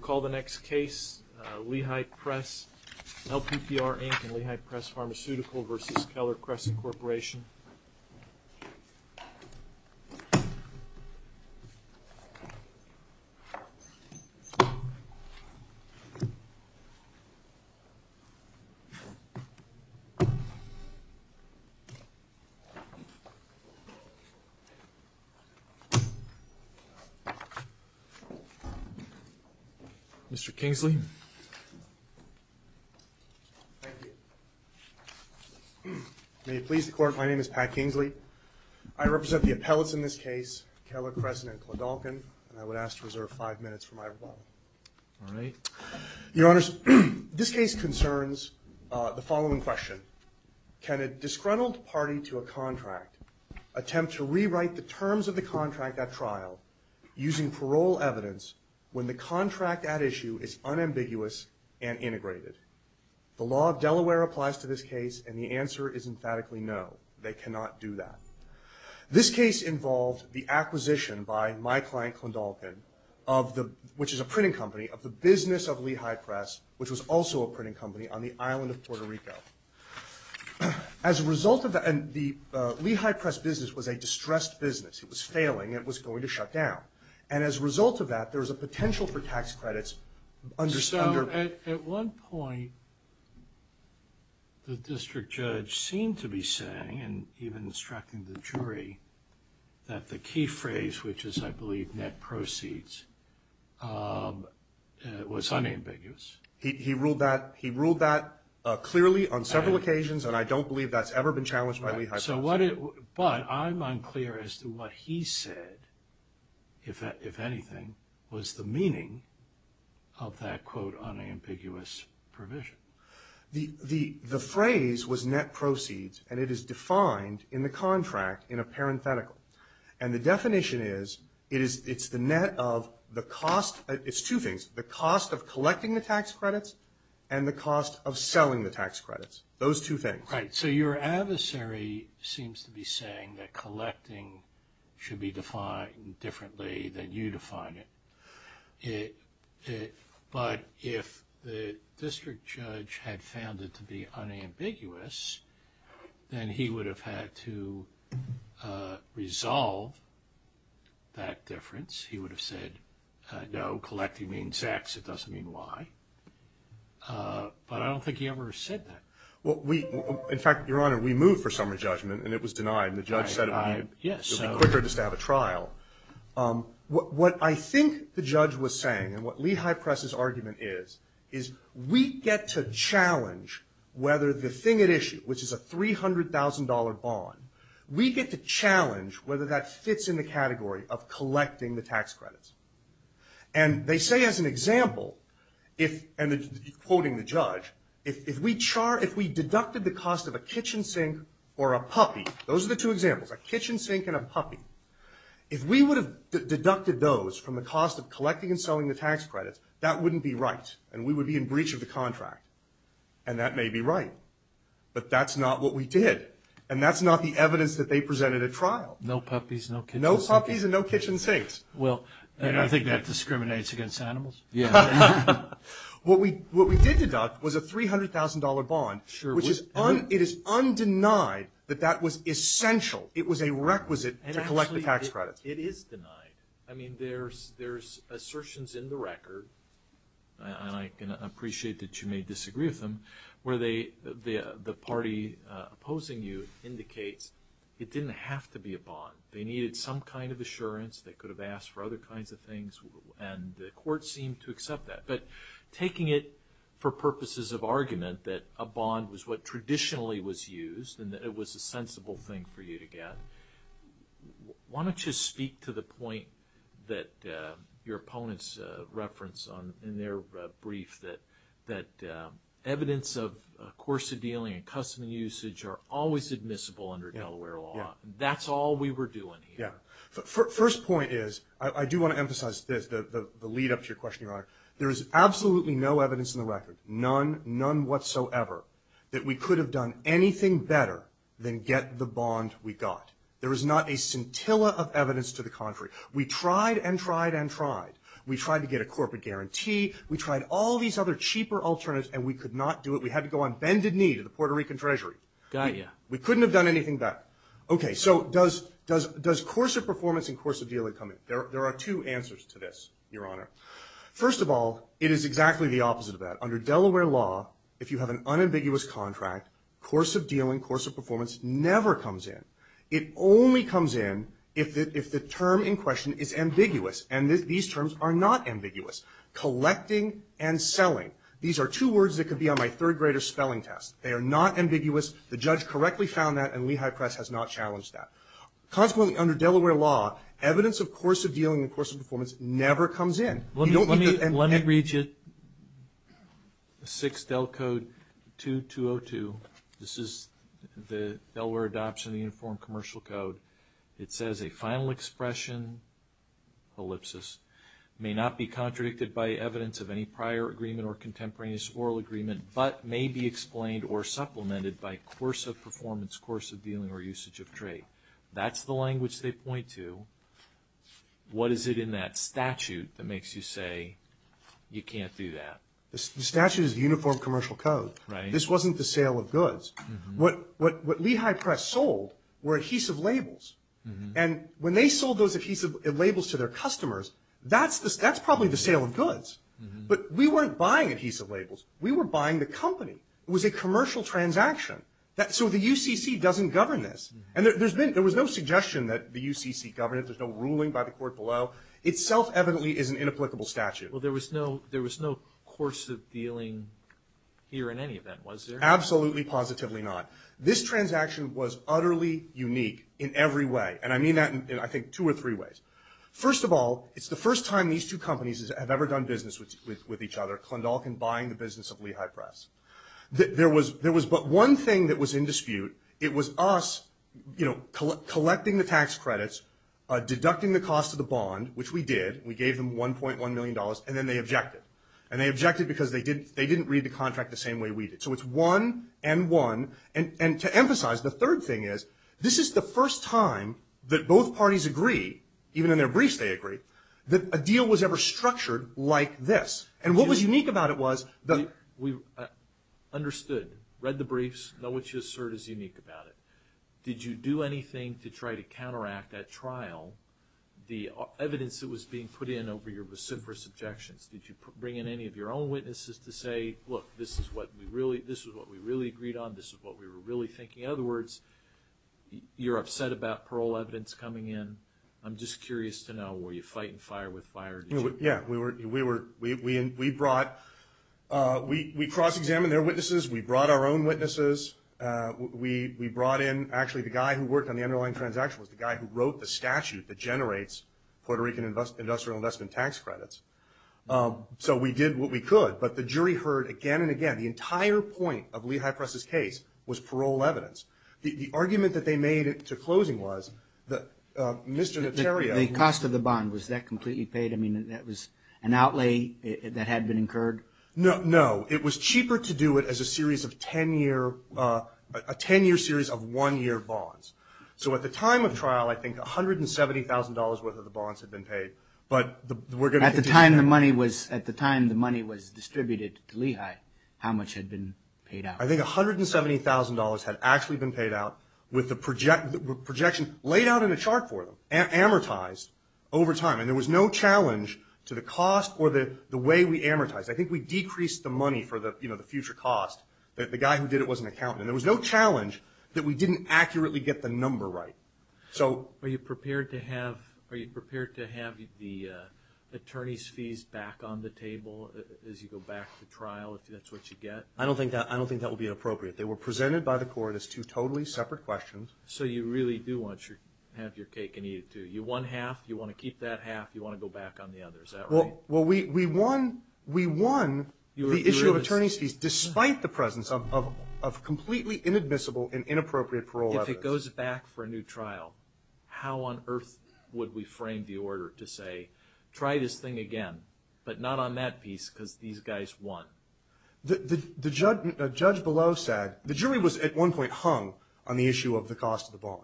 Call the next case, Lehigh Press, L.P.P.R, Inc. and Lehigh Press Pharmaceutical Vs. Keller Crescent Corporation Mr. Kingsley Thank you. May it please the Court, my name is Pat Kingsley. I represent the appellates in this case, Keller Crescent and Kledalken, and I would ask to reserve five minutes for my rebuttal. Your Honors, this case concerns the following question. Can a disgruntled party to a contract attempt to rewrite the terms of the contract at trial using parole evidence when the contract at issue is unambiguous and integrated? The law of Delaware applies to this case, and the answer is emphatically no, they cannot do that. This case involved the acquisition by my client Kledalken, which is a printing company, of the business of Lehigh Press, which was also a printing company on the island of Puerto Rico. As a result of that, the Lehigh Press business was a distressed business. It was failing. It was going to shut down. And as a result of that, there was a potential for tax credits under At one point, the district judge seemed to be saying, and even instructing the jury, that the key phrase, which is, I believe, net proceeds, was unambiguous. He ruled that clearly on several occasions, and I don't believe that's ever been challenged by Lehigh Press. But I'm unclear as to what he said, if anything, was the meaning of that, quote, unambiguous provision. The phrase was net proceeds, and it is defined in the contract in a parenthetical. And the definition is, it's the net of the cost, it's two things, the cost of collecting the tax credits and the cost of selling the tax credits. Those two things. Right. So your adversary seems to be saying that collecting should be defined differently than you define it. But if the district judge had found it to be unambiguous, then he would have had to resolve that difference. He would have said, no, collecting means X, it doesn't mean Y. But I don't think he ever said that. In fact, Your Honor, we moved for summary judgment, and it was denied, and the judge said it would be quicker just to have a trial. What I think the judge was saying, and what Lehigh Press's argument is, is we get to challenge whether the thing at issue, which is a $300,000 bond, we get to challenge whether that fits in the category of collecting the tax credits. And they say as an example, and quoting the judge, if we deducted the cost of a kitchen sink or a puppy, those are the two examples, a kitchen sink and a puppy, if we would have deducted those from the cost of collecting and selling the tax credits, that wouldn't be right, and we would be in breach of the contract. And that may be right, but that's not what we did, and that's not the evidence that they presented at trial. No puppies, no kitchen sinks. No puppies and no kitchen sinks. Well, I think that discriminates against animals. Yeah. What we did deduct was a $300,000 bond, which is undenied that that was essential. It was a requisite to collect the tax credits. It is denied. I mean, there's assertions in the record, and I can appreciate that you may disagree with them, where the party opposing you indicates it didn't have to be a bond. They needed some kind of assurance. They could have asked for other kinds of things, and the court seemed to accept that. But taking it for purposes of argument that a bond was what traditionally was used and that it was a sensible thing for you to get, why don't you speak to the point that your opponents referenced in their brief that evidence of coercive dealing and custom usage are always admissible under Delaware law. That's all we were doing here. Yeah. First point is, I do want to emphasize this, the lead-up to your question, Your Honor. There is absolutely no evidence in the record, none, none whatsoever, that we could have done anything better than get the bond we got. There is not a scintilla of evidence to the contrary. We tried and tried and tried. We tried to get a corporate guarantee. We tried all these other cheaper alternatives, and we could not do it. We had to go on bended knee to the Puerto Rican Treasury. Got you. We couldn't have done anything better. Okay. So does coercive performance and coercive dealing come in? There are two answers to this, Your Honor. First of all, it is exactly the opposite of that. Under Delaware law, if you have an unambiguous contract, coercive dealing, coercive performance never comes in. It only comes in if the term in question is ambiguous, and these terms are not ambiguous. Collecting and selling, these are two words that could be on my third-grader spelling test. They are not ambiguous. The judge correctly found that, and Lehigh Press has not challenged that. Consequently, under Delaware law, evidence of coercive dealing and coercive performance never comes in. Let me read you 6 Del Code 2202. This is the Delaware adoption of the Uniform Commercial Code. It says, a final expression, ellipsis, may not be contradicted by evidence of any prior agreement or contemporaneous oral agreement, but may be explained or supplemented by coercive performance, coercive dealing, or usage of trait. That's the language they point to. What is it in that statute that makes you say you can't do that? The statute is the Uniform Commercial Code. Right. This wasn't the sale of goods. What Lehigh Press sold were adhesive labels, and when they sold those adhesive labels to their customers, that's probably the sale of goods. But we weren't buying adhesive labels. We were buying the company. It was a commercial transaction. So the UCC doesn't govern this, and there was no suggestion that the UCC governed it. There's no ruling by the court below. It self-evidently is an inapplicable statute. Well, there was no coercive dealing here in any event, was there? Absolutely positively not. This transaction was utterly unique in every way, and I mean that in, I think, two or three ways. First of all, it's the first time these two companies have ever done business with each other, Klondalkin buying the business of Lehigh Press. There was but one thing that was in dispute. It was us, you know, collecting the tax credits, deducting the cost of the bond, which we did. We gave them $1.1 million, and then they objected. And they objected because they didn't read the contract the same way we did. So it's one and one. And to emphasize, the third thing is, this is the first time that both parties agree, even in their briefs they agree, that a deal was ever structured like this. And what was unique about it was that we understood, read the briefs, know what you assert is unique about it. Did you do anything to try to counteract at trial the evidence that was being put in over your vociferous objections? Did you bring in any of your own witnesses to say, look, this is what we really agreed on, this is what we were really thinking? In other words, you're upset about parole evidence coming in. I'm just curious to know, were you fighting fire with fire? Yeah, we were. We brought – we cross-examined their witnesses. We brought our own witnesses. We brought in – actually, the guy who worked on the underlying transaction was the guy who wrote the statute that generates Puerto Rican industrial investment tax credits. So we did what we could. But the jury heard again and again the entire point of Lehigh Press's case was parole evidence. The argument that they made to closing was that Mr. Notario – The cost of the bond, was that completely paid? I mean, that was an outlay that had been incurred? No. It was cheaper to do it as a series of 10-year – a 10-year series of one-year bonds. So at the time of trial, I think $170,000 worth of the bonds had been paid. But we're going to continue – At the time the money was distributed to Lehigh, how much had been paid out? I think $170,000 had actually been paid out with the projection laid out in a chart for them, amortized over time. And there was no challenge to the cost or the way we amortized. I think we decreased the money for the future cost. The guy who did it was an accountant. And there was no challenge that we didn't accurately get the number right. Are you prepared to have the attorney's fees back on the table as you go back to trial, if that's what you get? I don't think that will be appropriate. They were presented by the court as two totally separate questions. So you really do want to have your cake and eat it, too? You won half, you want to keep that half, you want to go back on the other. Is that right? Well, we won the issue of attorney's fees despite the presence of completely inadmissible and inappropriate parole evidence. If it goes back for a new trial, how on earth would we frame the order to say, try this thing again, but not on that piece because these guys won? The judge below said, the jury was at one point hung on the issue of the cost of the bond.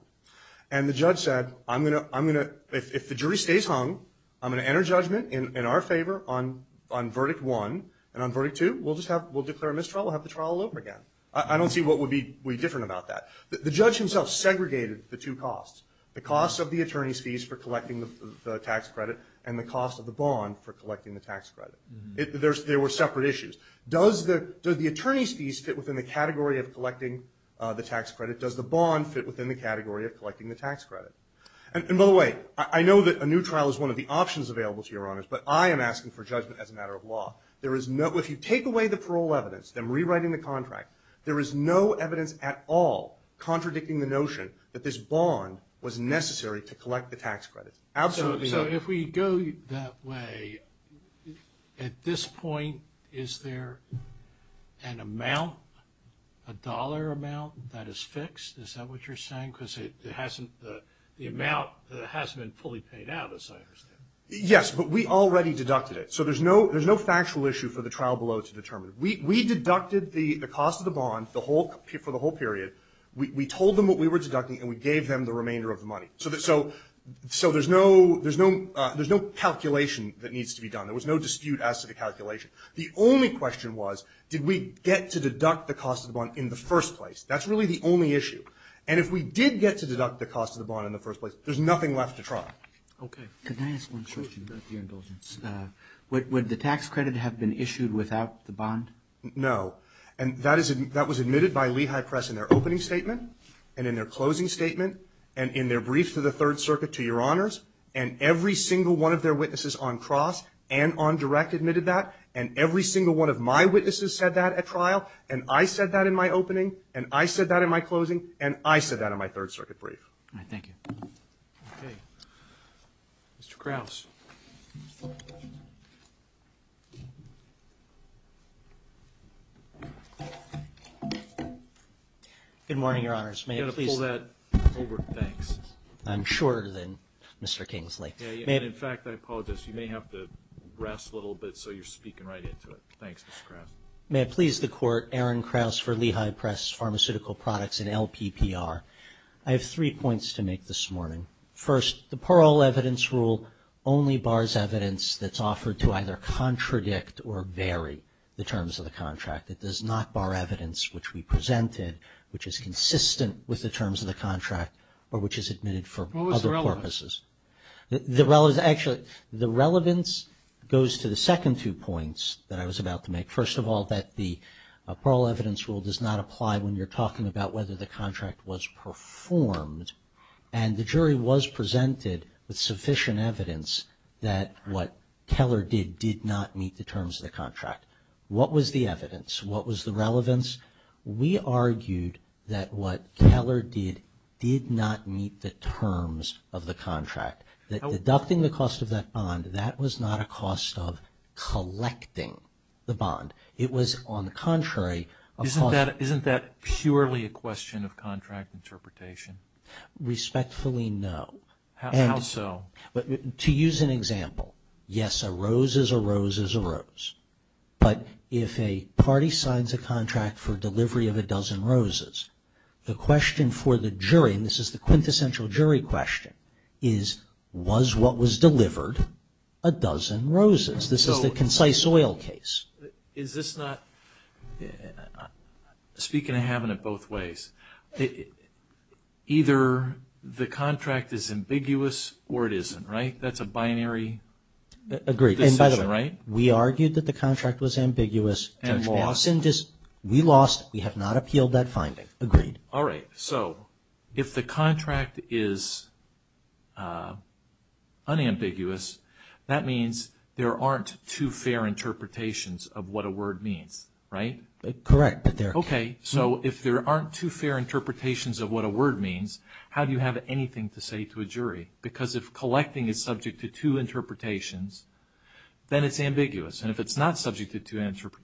And the judge said, if the jury stays hung, I'm going to enter judgment in our favor on verdict one. And on verdict two, we'll declare a mistrial, we'll have the trial all over again. I don't see what would be different about that. The judge himself segregated the two costs, the cost of the attorney's fees for collecting the tax credit and the cost of the bond for collecting the tax credit. There were separate issues. Does the attorney's fees fit within the category of collecting the tax credit? Does the bond fit within the category of collecting the tax credit? And by the way, I know that a new trial is one of the options available to Your Honors, but I am asking for judgment as a matter of law. If you take away the parole evidence, then rewriting the contract, there is no evidence at all contradicting the notion that this bond was necessary to collect the tax credit. Absolutely not. So if we go that way, at this point, is there an amount, a dollar amount that is fixed? Is that what you're saying? Because the amount hasn't been fully paid out, as I understand. Yes, but we already deducted it. So there's no factual issue for the trial below to determine. We deducted the cost of the bond for the whole period. We told them what we were deducting, and we gave them the remainder of the money. So there's no calculation that needs to be done. There was no dispute as to the calculation. The only question was, did we get to deduct the cost of the bond in the first place? That's really the only issue. And if we did get to deduct the cost of the bond in the first place, there's nothing left to try. Okay. Can I ask one question, with your indulgence? Would the tax credit have been issued without the bond? No. And that was admitted by Lehigh Press in their opening statement, and in their closing statement, and in their brief to the Third Circuit to Your Honors, and every single one of their witnesses on cross and on direct admitted that, and every single one of my witnesses said that at trial, and I said that in my opening, and I said that in my closing, and I said that in my Third Circuit brief. All right. Thank you. Okay. Mr. Krause. Good morning, Your Honors. You've got to pull that over. Thanks. I'm shorter than Mr. Kingsley. In fact, I apologize. You may have to rest a little bit so you're speaking right into it. Thanks, Mr. Krause. May it please the Court, Aaron Krause for Lehigh Press Pharmaceutical Products and LPPR. I have three points to make this morning. First, the parole evidence rule only bars evidence that's offered to either contradict or vary the terms of the contract. It does not bar evidence which we presented, which is consistent with the terms of the contract, or which is admitted for other purposes. What was the relevance? Actually, the relevance goes to the second two points that I was about to make. First of all, that the parole evidence rule does not apply when you're talking about whether the contract was performed, and the jury was presented with sufficient evidence that what Keller did did not meet the terms of the contract. What was the evidence? What was the relevance? We argued that what Keller did did not meet the terms of the contract. That deducting the cost of that bond, that was not a cost of collecting the bond. It was, on the contrary, a cost... Isn't that purely a question of contract interpretation? Respectfully, no. How so? To use an example, yes, a rose is a rose is a rose. But if a party signs a contract for delivery of a dozen roses, the question for the jury, and this is the quintessential jury question, is, was what was delivered a dozen roses? This is the concise oil case. Is this not... Speaking of having it both ways, either the contract is ambiguous or it isn't, right? That's a binary decision, right? Agreed. And by the way, we argued that the contract was ambiguous. And lost? We lost. We have not appealed that finding. Agreed. All right. So if the contract is unambiguous, that means there aren't two fair interpretations of what a word means, right? Correct. Okay. So if there aren't two fair interpretations of what a word means, how do you have anything to say to a jury? Because if collecting is subject to two interpretations, then it's ambiguous. And if it's not subject to two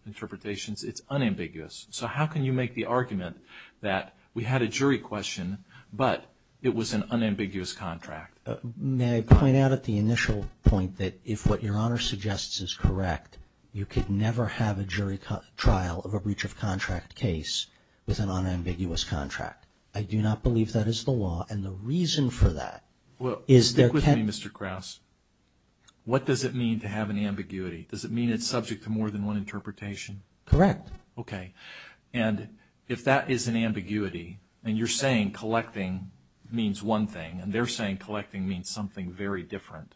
interpretations, it's unambiguous. So how can you make the argument that we had a jury question, but it was an unambiguous contract? May I point out at the initial point that if what Your Honor suggests is correct, you could never have a jury trial of a breach of contract case with an unambiguous contract. I do not believe that is the law. And the reason for that is there can't... Well, speak with me, Mr. Krause. What does it mean to have an ambiguity? Does it mean it's subject to more than one interpretation? Correct. Okay. And if that is an ambiguity and you're saying collecting means one thing and they're saying collecting means something very different,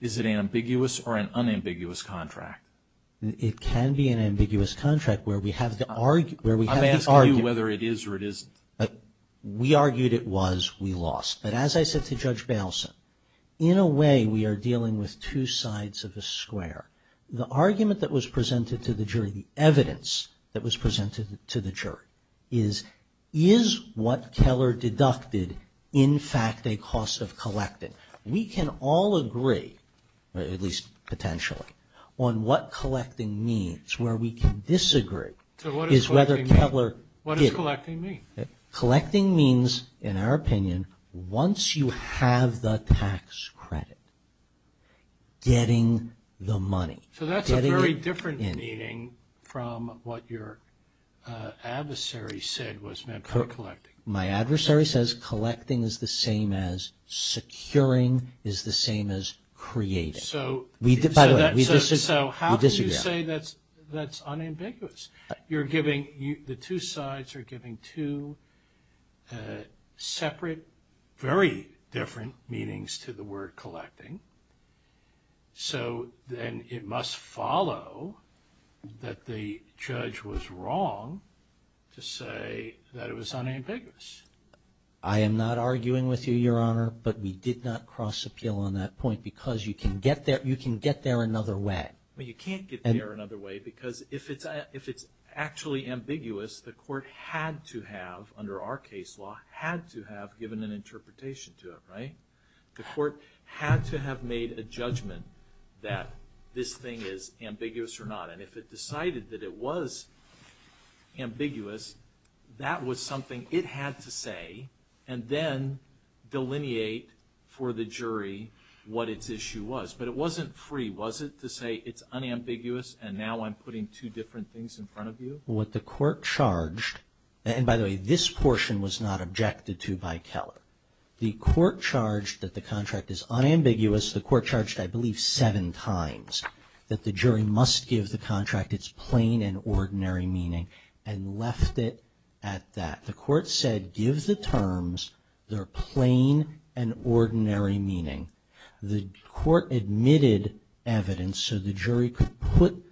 is it ambiguous or an unambiguous contract? It can be an ambiguous contract where we have to argue... I'm asking you whether it is or it isn't. We argued it was, we lost. But as I said to Judge Bailson, in a way we are dealing with two sides of a square. The argument that was presented to the jury, the evidence that was presented to the jury is, is what Keller deducted in fact a cost of collecting? We can all agree, at least potentially, on what collecting means. Where we can disagree is whether Keller did... So what does collecting mean? What does collecting mean? Collecting means, in our opinion, once you have the tax credit, getting the money. So that's a very different meaning from what your adversary said was meant by collecting. My adversary says collecting is the same as securing, is the same as creating. So how can you say that's unambiguous? You're giving, the two sides are giving two separate, very different meanings to the word collecting. So then it must follow that the judge was wrong to say that it was unambiguous. I am not arguing with you, Your Honor, but we did not cross appeal on that point because you can get there another way. You can't get there another way because if it's actually ambiguous, the court had to have, under our case law, had to have given an interpretation to it, right? The court had to have made a judgment that this thing is ambiguous or not. And if it decided that it was ambiguous, that was something it had to say and then delineate for the jury what its issue was. But it wasn't free, was it, to say it's unambiguous and now I'm putting two different things in front of you? What the court charged, and by the way, this portion was not objected to by Keller. The court charged that the contract is unambiguous. The court charged, I believe, seven times that the jury must give the contract its plain and ordinary meaning and left it at that. The court said give the terms their plain and ordinary meaning. The court admitted evidence so the jury could put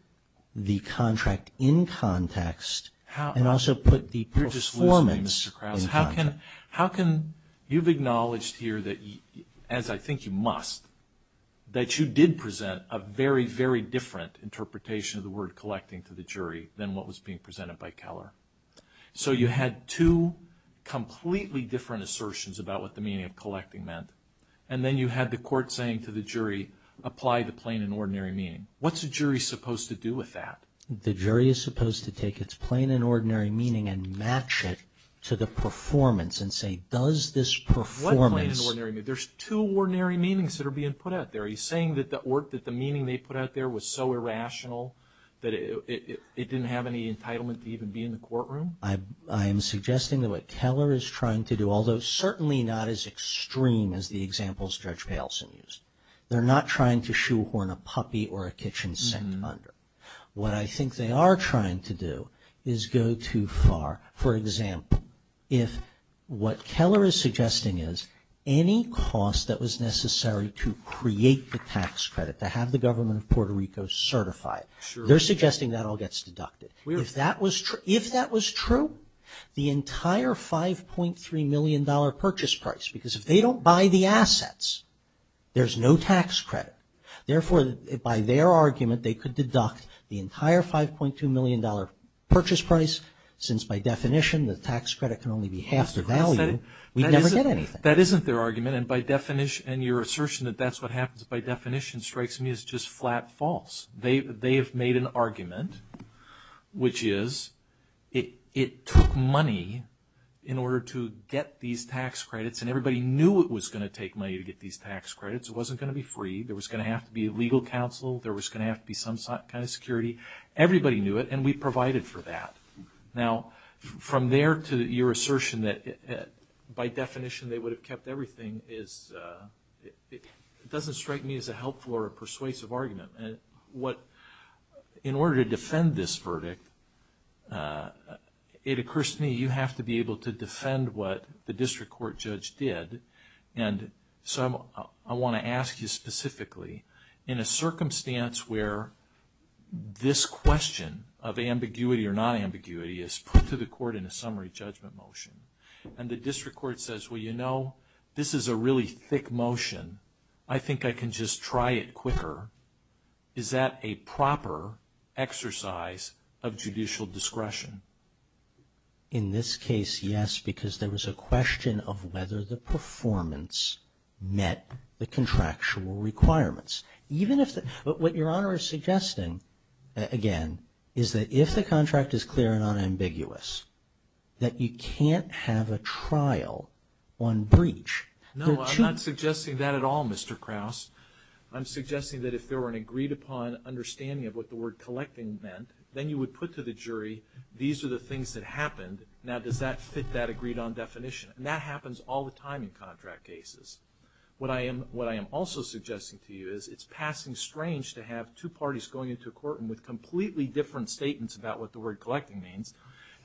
the contract in context and also put the performance in context. You're just losing me, Mr. Krause. How can you've acknowledged here that, as I think you must, that you did present a very, very different interpretation of the word collecting to the jury than what was being presented by Keller. So you had two completely different assertions about what the meaning of collecting meant and then you had the court saying to the jury, apply the plain and ordinary meaning. What's a jury supposed to do with that? The jury is supposed to take its plain and ordinary meaning and match it to the performance and say, does this performance... What plain and ordinary meaning? There's two ordinary meanings that are being put out there. Are you saying that the meaning they put out there was so irrational that it didn't have any entitlement to even be in the courtroom? I am suggesting that what Keller is trying to do, although certainly not as extreme as the examples Judge Payleson used, they're not trying to shoehorn a puppy or a kitchen sink under. What I think they are trying to do is go too far. For example, if what Keller is suggesting is any cost that was necessary to create the tax credit, to have the government of Puerto Rico certify it. They're suggesting that all gets deducted. If that was true, the entire $5.3 million purchase price, because if they don't buy the assets, there's no tax credit. Therefore, by their argument, they could deduct the entire $5.2 million purchase price, since by definition the tax credit can only be half the value, we never get anything. That isn't their argument, and your assertion that that's what happens by definition strikes me as just flat false. They have made an argument, which is it took money in order to get these tax credits, and everybody knew it was going to take money to get these tax credits. It wasn't going to be free. There was going to have to be legal counsel. There was going to have to be some kind of security. Everybody knew it, and we provided for that. Now, from there to your assertion that by definition they would have kept everything, it doesn't strike me as a helpful or persuasive argument. In order to defend this verdict, it occurs to me you have to be able to defend what the district court judge did. I want to ask you specifically, in a circumstance where this question of ambiguity or non-ambiguity is put to the court in a summary judgment motion, and the district court says, well, you know, this is a really thick motion. I think I can just try it quicker. Is that a proper exercise of judicial discretion? In this case, yes, because there was a question of whether the performance met the contractual requirements. What Your Honor is suggesting, again, is that if the contract is clear and non-ambiguous, that you can't have a trial on breach. No, I'm not suggesting that at all, Mr. Krause. I'm suggesting that if there were an agreed-upon understanding of what the word collecting meant, then you would put to the jury, these are the things that happened. Now, does that fit that agreed-on definition? And that happens all the time in contract cases. What I am also suggesting to you is it's passing strange to have two parties going into a court and with completely different statements about what the word collecting means,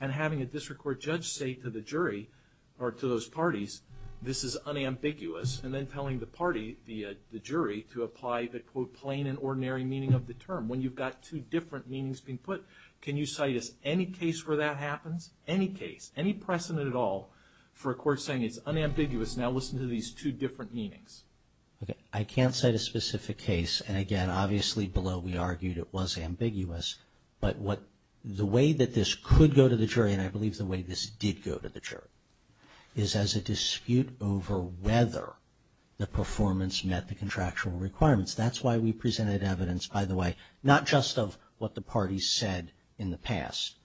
and having a district court judge say to the jury, or to those parties, this is unambiguous, and then telling the party, the jury, to apply the, quote, plain and ordinary meaning of the term. When you've got two different meanings being put, can you cite us any case where that happens? Any case, any precedent at all for a court saying it's unambiguous. Now listen to these two different meanings. Okay. I can't cite a specific case, and again, obviously below we argued it was ambiguous, but what the way that this could go to the jury, and I believe the way this did go to the jury, is as a dispute over whether the performance met the contractual requirements. That's why we presented evidence, by the way, not just of what the parties said in the past,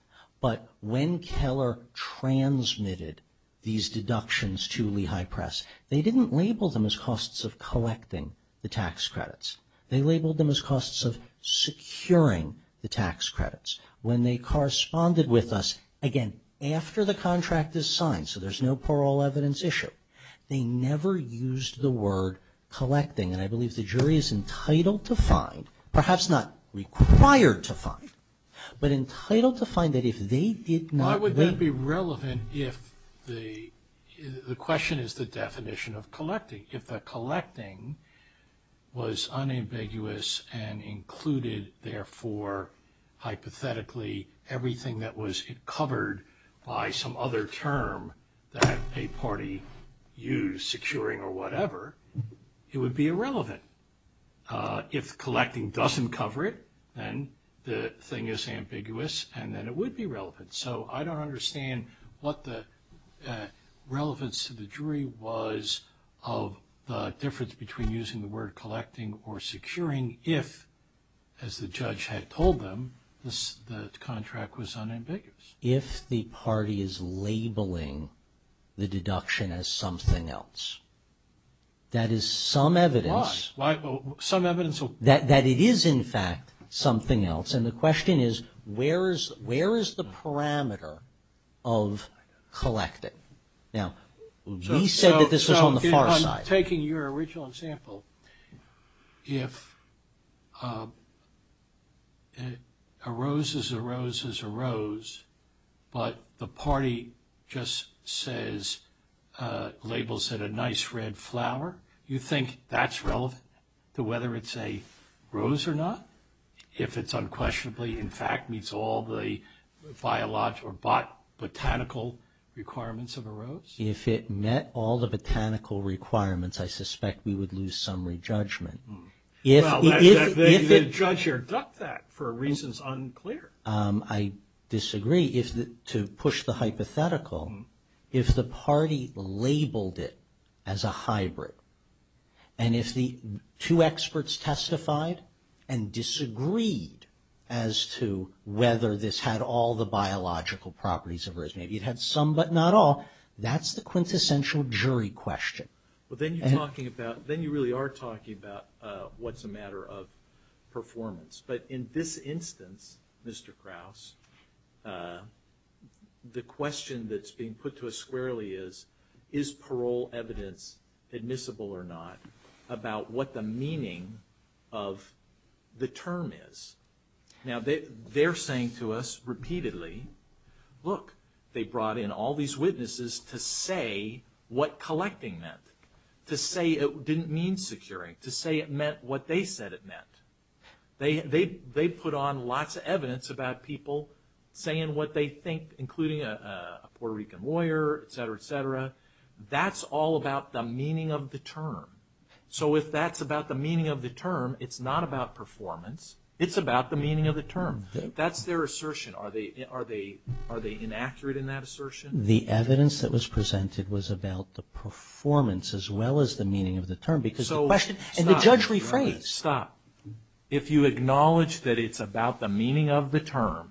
but when Keller transmitted these deductions to Lehigh Press, they didn't label them as costs of collecting the tax credits. They labeled them as costs of securing the tax credits. When they corresponded with us, again, after the contract is signed, so there's no parole evidence issue, they never used the word collecting, and I believe the jury is entitled to find, perhaps not required to find, but entitled to find that if they did not... Why would that be relevant if the question is the definition of collecting? If the collecting was unambiguous and included, therefore, hypothetically, everything that was covered by some other term that a party used, securing or whatever, it would be irrelevant. If collecting doesn't cover it, then the thing is ambiguous, and then it would be relevant. So I don't understand what the relevance to the jury was of the difference between using the word collecting or securing if, as the judge had told them, the contract was unambiguous. If the party is labeling the deduction as something else, that is some evidence that it is, in fact, something else, and the question is where is the parameter of collecting? Now, we said that this was on the far side. I'm taking your original example. If a rose is a rose is a rose, but the party just says, labels it a nice red flower, you think that's relevant to whether it's a rose or not? If it's unquestionably, in fact, meets all the biological or botanical requirements of a rose? If it met all the botanical requirements, I suspect we would lose summary judgment. Well, the judge here got that for reasons unclear. I disagree. To push the hypothetical, if the party labeled it as a hybrid, and if the two experts testified and disagreed as to whether this had all the biological properties of a rose, maybe it had some but not all, that's the quintessential jury question. Well, then you're talking about, then you really are talking about what's a matter of performance. But in this instance, Mr. Krause, the question that's being put to us squarely is, is parole evidence admissible or not about what the meaning of the term is? Now, they're saying to us repeatedly, look, they brought in all these witnesses to say what collecting meant, to say it didn't mean securing, to say it meant what they said it meant. They put on lots of evidence about people saying what they think, including a Puerto Rican lawyer, etc., etc. That's all about the meaning of the term. So if that's about the meaning of the term, it's not about performance. It's about the meaning of the term. That's their assertion. Are they inaccurate in that assertion? The evidence that was presented was about the performance as well as the meaning of the term. And the judge rephrased. Stop. If you acknowledge that it's about the meaning of the term,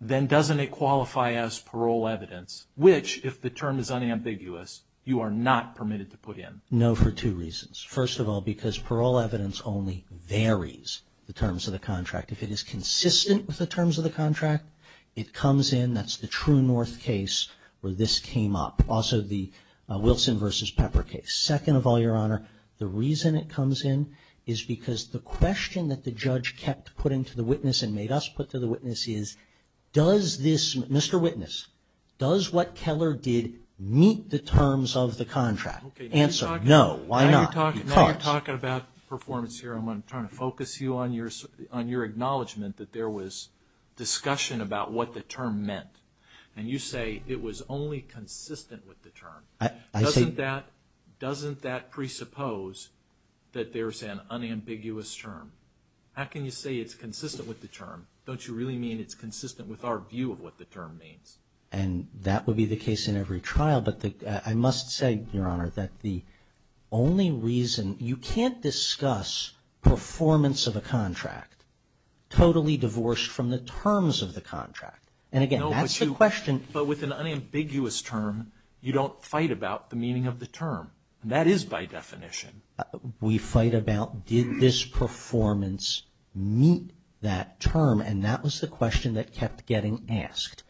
then doesn't it qualify as parole evidence, which, if the term is unambiguous, you are not permitted to put in? No, for two reasons. First of all, because parole evidence only varies the terms of the contract. If it is consistent with the terms of the contract, it comes in. That's the True North case where this came up. Also the Wilson v. Pepper case. Second of all, Your Honor, the reason it comes in is because the question that the judge kept putting to the witness and made us put to the witness is, Mr. Witness, does what Keller did meet the terms of the contract? Answer, no. Why not? Now you're talking about performance here. I'm trying to focus you on your acknowledgment that there was discussion about what the term meant. And you say it was only consistent with the term. Doesn't that presuppose that there's an unambiguous term? How can you say it's consistent with the term? Don't you really mean it's consistent with our view of what the term means? And that would be the case in every trial. But I must say, Your Honor, that the only reason you can't discuss performance of a contract totally divorced from the terms of the contract. And, again, that's the question. But with an unambiguous term, you don't fight about the meaning of the term. And that is by definition. We fight about did this performance meet that term? And that was the question that kept getting asked.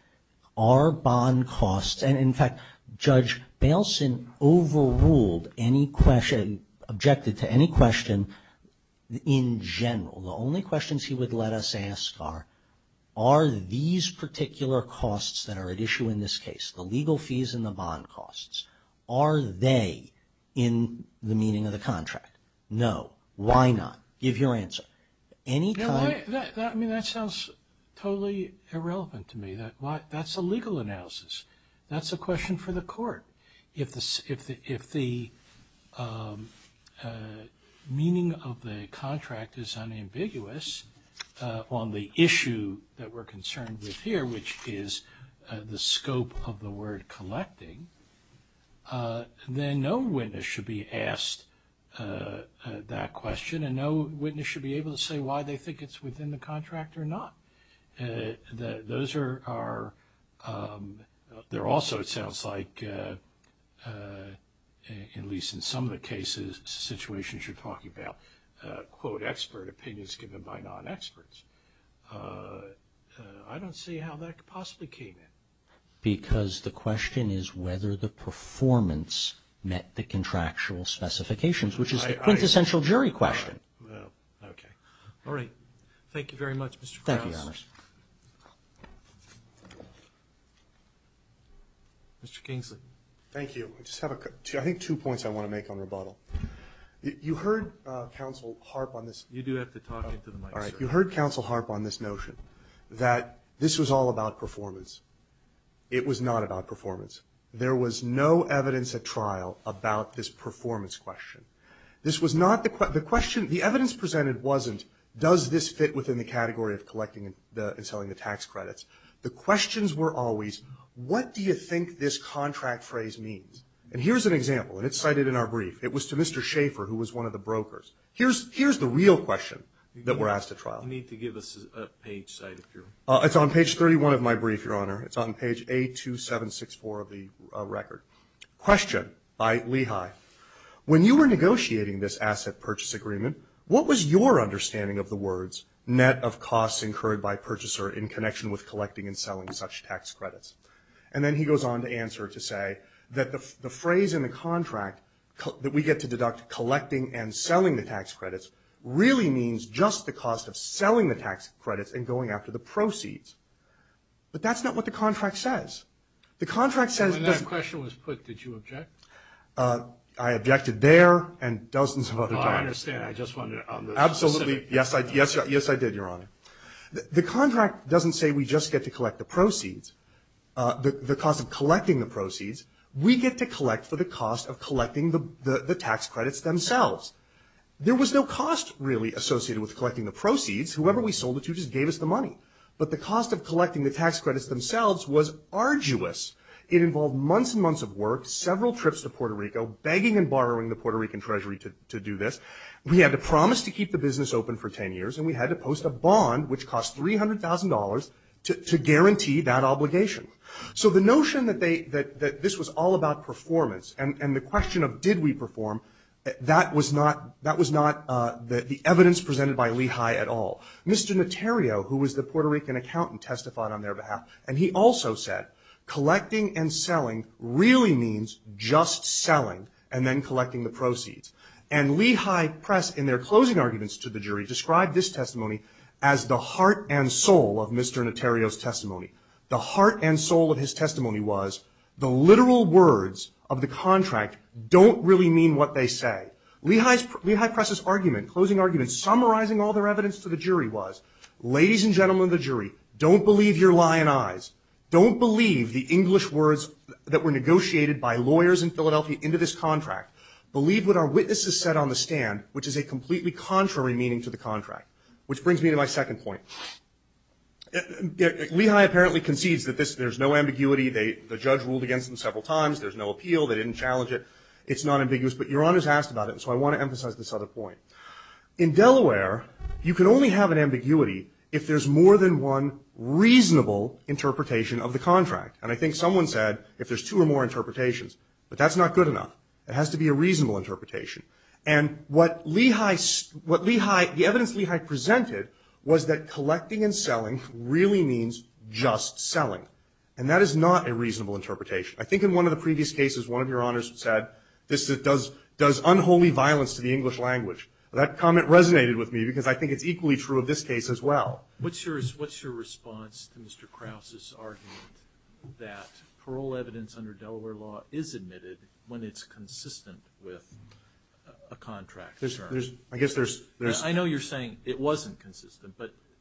Are bond costs, and, in fact, Judge Bailson overruled any question, objected to any question in general. The only questions he would let us ask are, are these particular costs that are at issue in this case, the legal fees and the bond costs, are they in the meaning of the contract? No. Why not? Give your answer. I mean, that sounds totally irrelevant to me. That's a legal analysis. That's a question for the court. If the meaning of the contract is unambiguous on the issue that we're concerned with here, which is the scope of the word collecting, then no witness should be asked that question. And no witness should be able to say why they think it's within the contract or not. Those are, they're also, it sounds like, at least in some of the cases, situations you're talking about, quote, expert opinions given by non-experts. I don't see how that could possibly came in. Because the question is whether the performance met the contractual specifications, which is the quintessential jury question. Well, okay. All right. Thank you very much, Mr. Krauss. Thank you, Your Honor. Mr. Kingsley. Thank you. I just have a, I think two points I want to make on rebuttal. You heard Counsel Harp on this. You do have to talk into the mic, sir. All right. You heard Counsel Harp on this notion that this was all about performance. It was not about performance. There was no evidence at trial about this performance question. This was not, the question, the evidence presented wasn't does this fit within the category of collecting and selling the tax credits. The questions were always what do you think this contract phrase means? And here's an example, and it's cited in our brief. It was to Mr. Schaefer, who was one of the brokers. Here's the real question that we're asked at trial. You need to give us a page cited here. It's on page 31 of my brief, Your Honor. It's on page A2764 of the record. Question by Lehigh. When you were negotiating this asset purchase agreement, what was your understanding of the words net of costs incurred by purchaser in connection with collecting and selling such tax credits? And then he goes on to answer to say that the phrase in the contract that we get to deduct collecting and selling the tax credits really means just the cost of selling the tax credits and going after the proceeds. But that's not what the contract says. The contract says When that question was put, did you object? I objected there and dozens of other times. I understand. I just wanted to Absolutely. Yes, I did, Your Honor. The contract doesn't say we just get to collect the proceeds, the cost of collecting the proceeds. We get to collect for the cost of collecting the tax credits themselves. There was no cost really associated with collecting the proceeds. Whoever we sold it to just gave us the money. But the cost of collecting the tax credits themselves was arduous. It involved months and months of work, several trips to Puerto Rico, begging and borrowing the Puerto Rican treasury to do this. We had to promise to keep the business open for 10 years, and we had to post a bond, which cost $300,000, to guarantee that obligation. So the notion that this was all about performance and the question of did we perform, that was not the evidence presented by Lehigh at all. Mr. Notario, who was the Puerto Rican accountant, testified on their behalf. And he also said collecting and selling really means just selling and then collecting the proceeds. And Lehigh Press, in their closing arguments to the jury, described this testimony as the heart and soul of Mr. Notario's testimony. The heart and soul of his testimony was the literal words of the contract don't really mean what they say. Lehigh Press' argument, closing argument, summarizing all their evidence to the jury was, ladies and gentlemen of the jury, don't believe your lying eyes. Don't believe the English words that were negotiated by lawyers in Philadelphia into this contract. Believe what our witnesses said on the stand, which is a completely contrary meaning to the contract. Which brings me to my second point. Lehigh apparently concedes that there's no ambiguity. The judge ruled against them several times. There's no appeal. They didn't challenge it. It's not ambiguous. But your Honor's asked about it, so I want to emphasize this other point. In Delaware, you can only have an ambiguity if there's more than one reasonable interpretation of the contract. And I think someone said if there's two or more interpretations. But that's not good enough. It has to be a reasonable interpretation. And what Lehigh, what Lehigh, the evidence Lehigh presented was that collecting and selling really means just selling. And that is not a reasonable interpretation. I think in one of the previous cases, one of your Honors said this does unholy violence to the English language. That comment resonated with me because I think it's equally true of this case as well. What's your response to Mr. Krause's argument that parole evidence under Delaware law is admitted when it's consistent with a contract? I guess there's. I know you're saying it wasn't consistent.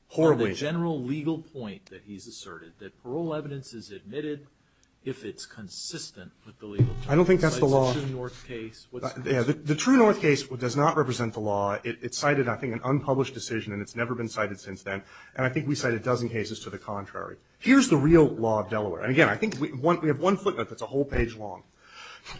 Horribly. But the general legal point that he's asserted, that parole evidence is admitted if it's consistent with the legal terms. I don't think that's the law. It's a True North case. The True North case does not represent the law. It cited, I think, an unpublished decision. And it's never been cited since then. And I think we cited a dozen cases to the contrary. Here's the real law of Delaware. And again, I think we have one footnote that's a whole page long.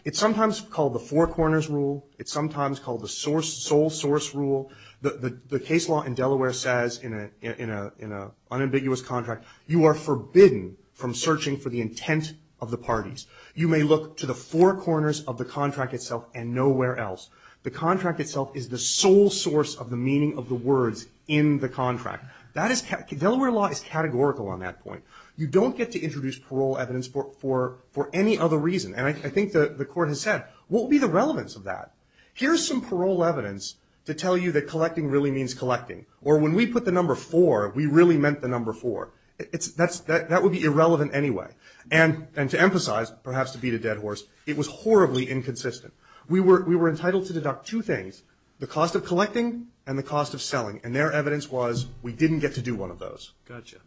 It's sometimes called the four corners rule. It's sometimes called the sole source rule. The case law in Delaware says in an unambiguous contract, you are forbidden from searching for the intent of the parties. You may look to the four corners of the contract itself and nowhere else. The contract itself is the sole source of the meaning of the words in the contract. Delaware law is categorical on that point. You don't get to introduce parole evidence for any other reason. And I think the Court has said, what would be the relevance of that? Here's some parole evidence to tell you that collecting really means collecting. Or when we put the number four, we really meant the number four. That would be irrelevant anyway. And to emphasize, perhaps to beat a dead horse, it was horribly inconsistent. We were entitled to deduct two things, the cost of collecting and the cost of selling. And their evidence was we didn't get to do one of those. Got you.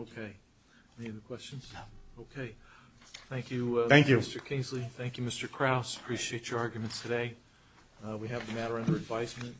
Okay. Any other questions? No. Okay. Thank you, Mr. Kingsley. Thank you. Thank you, Mr. Krause. Appreciate your arguments today. We have the matter under advisement.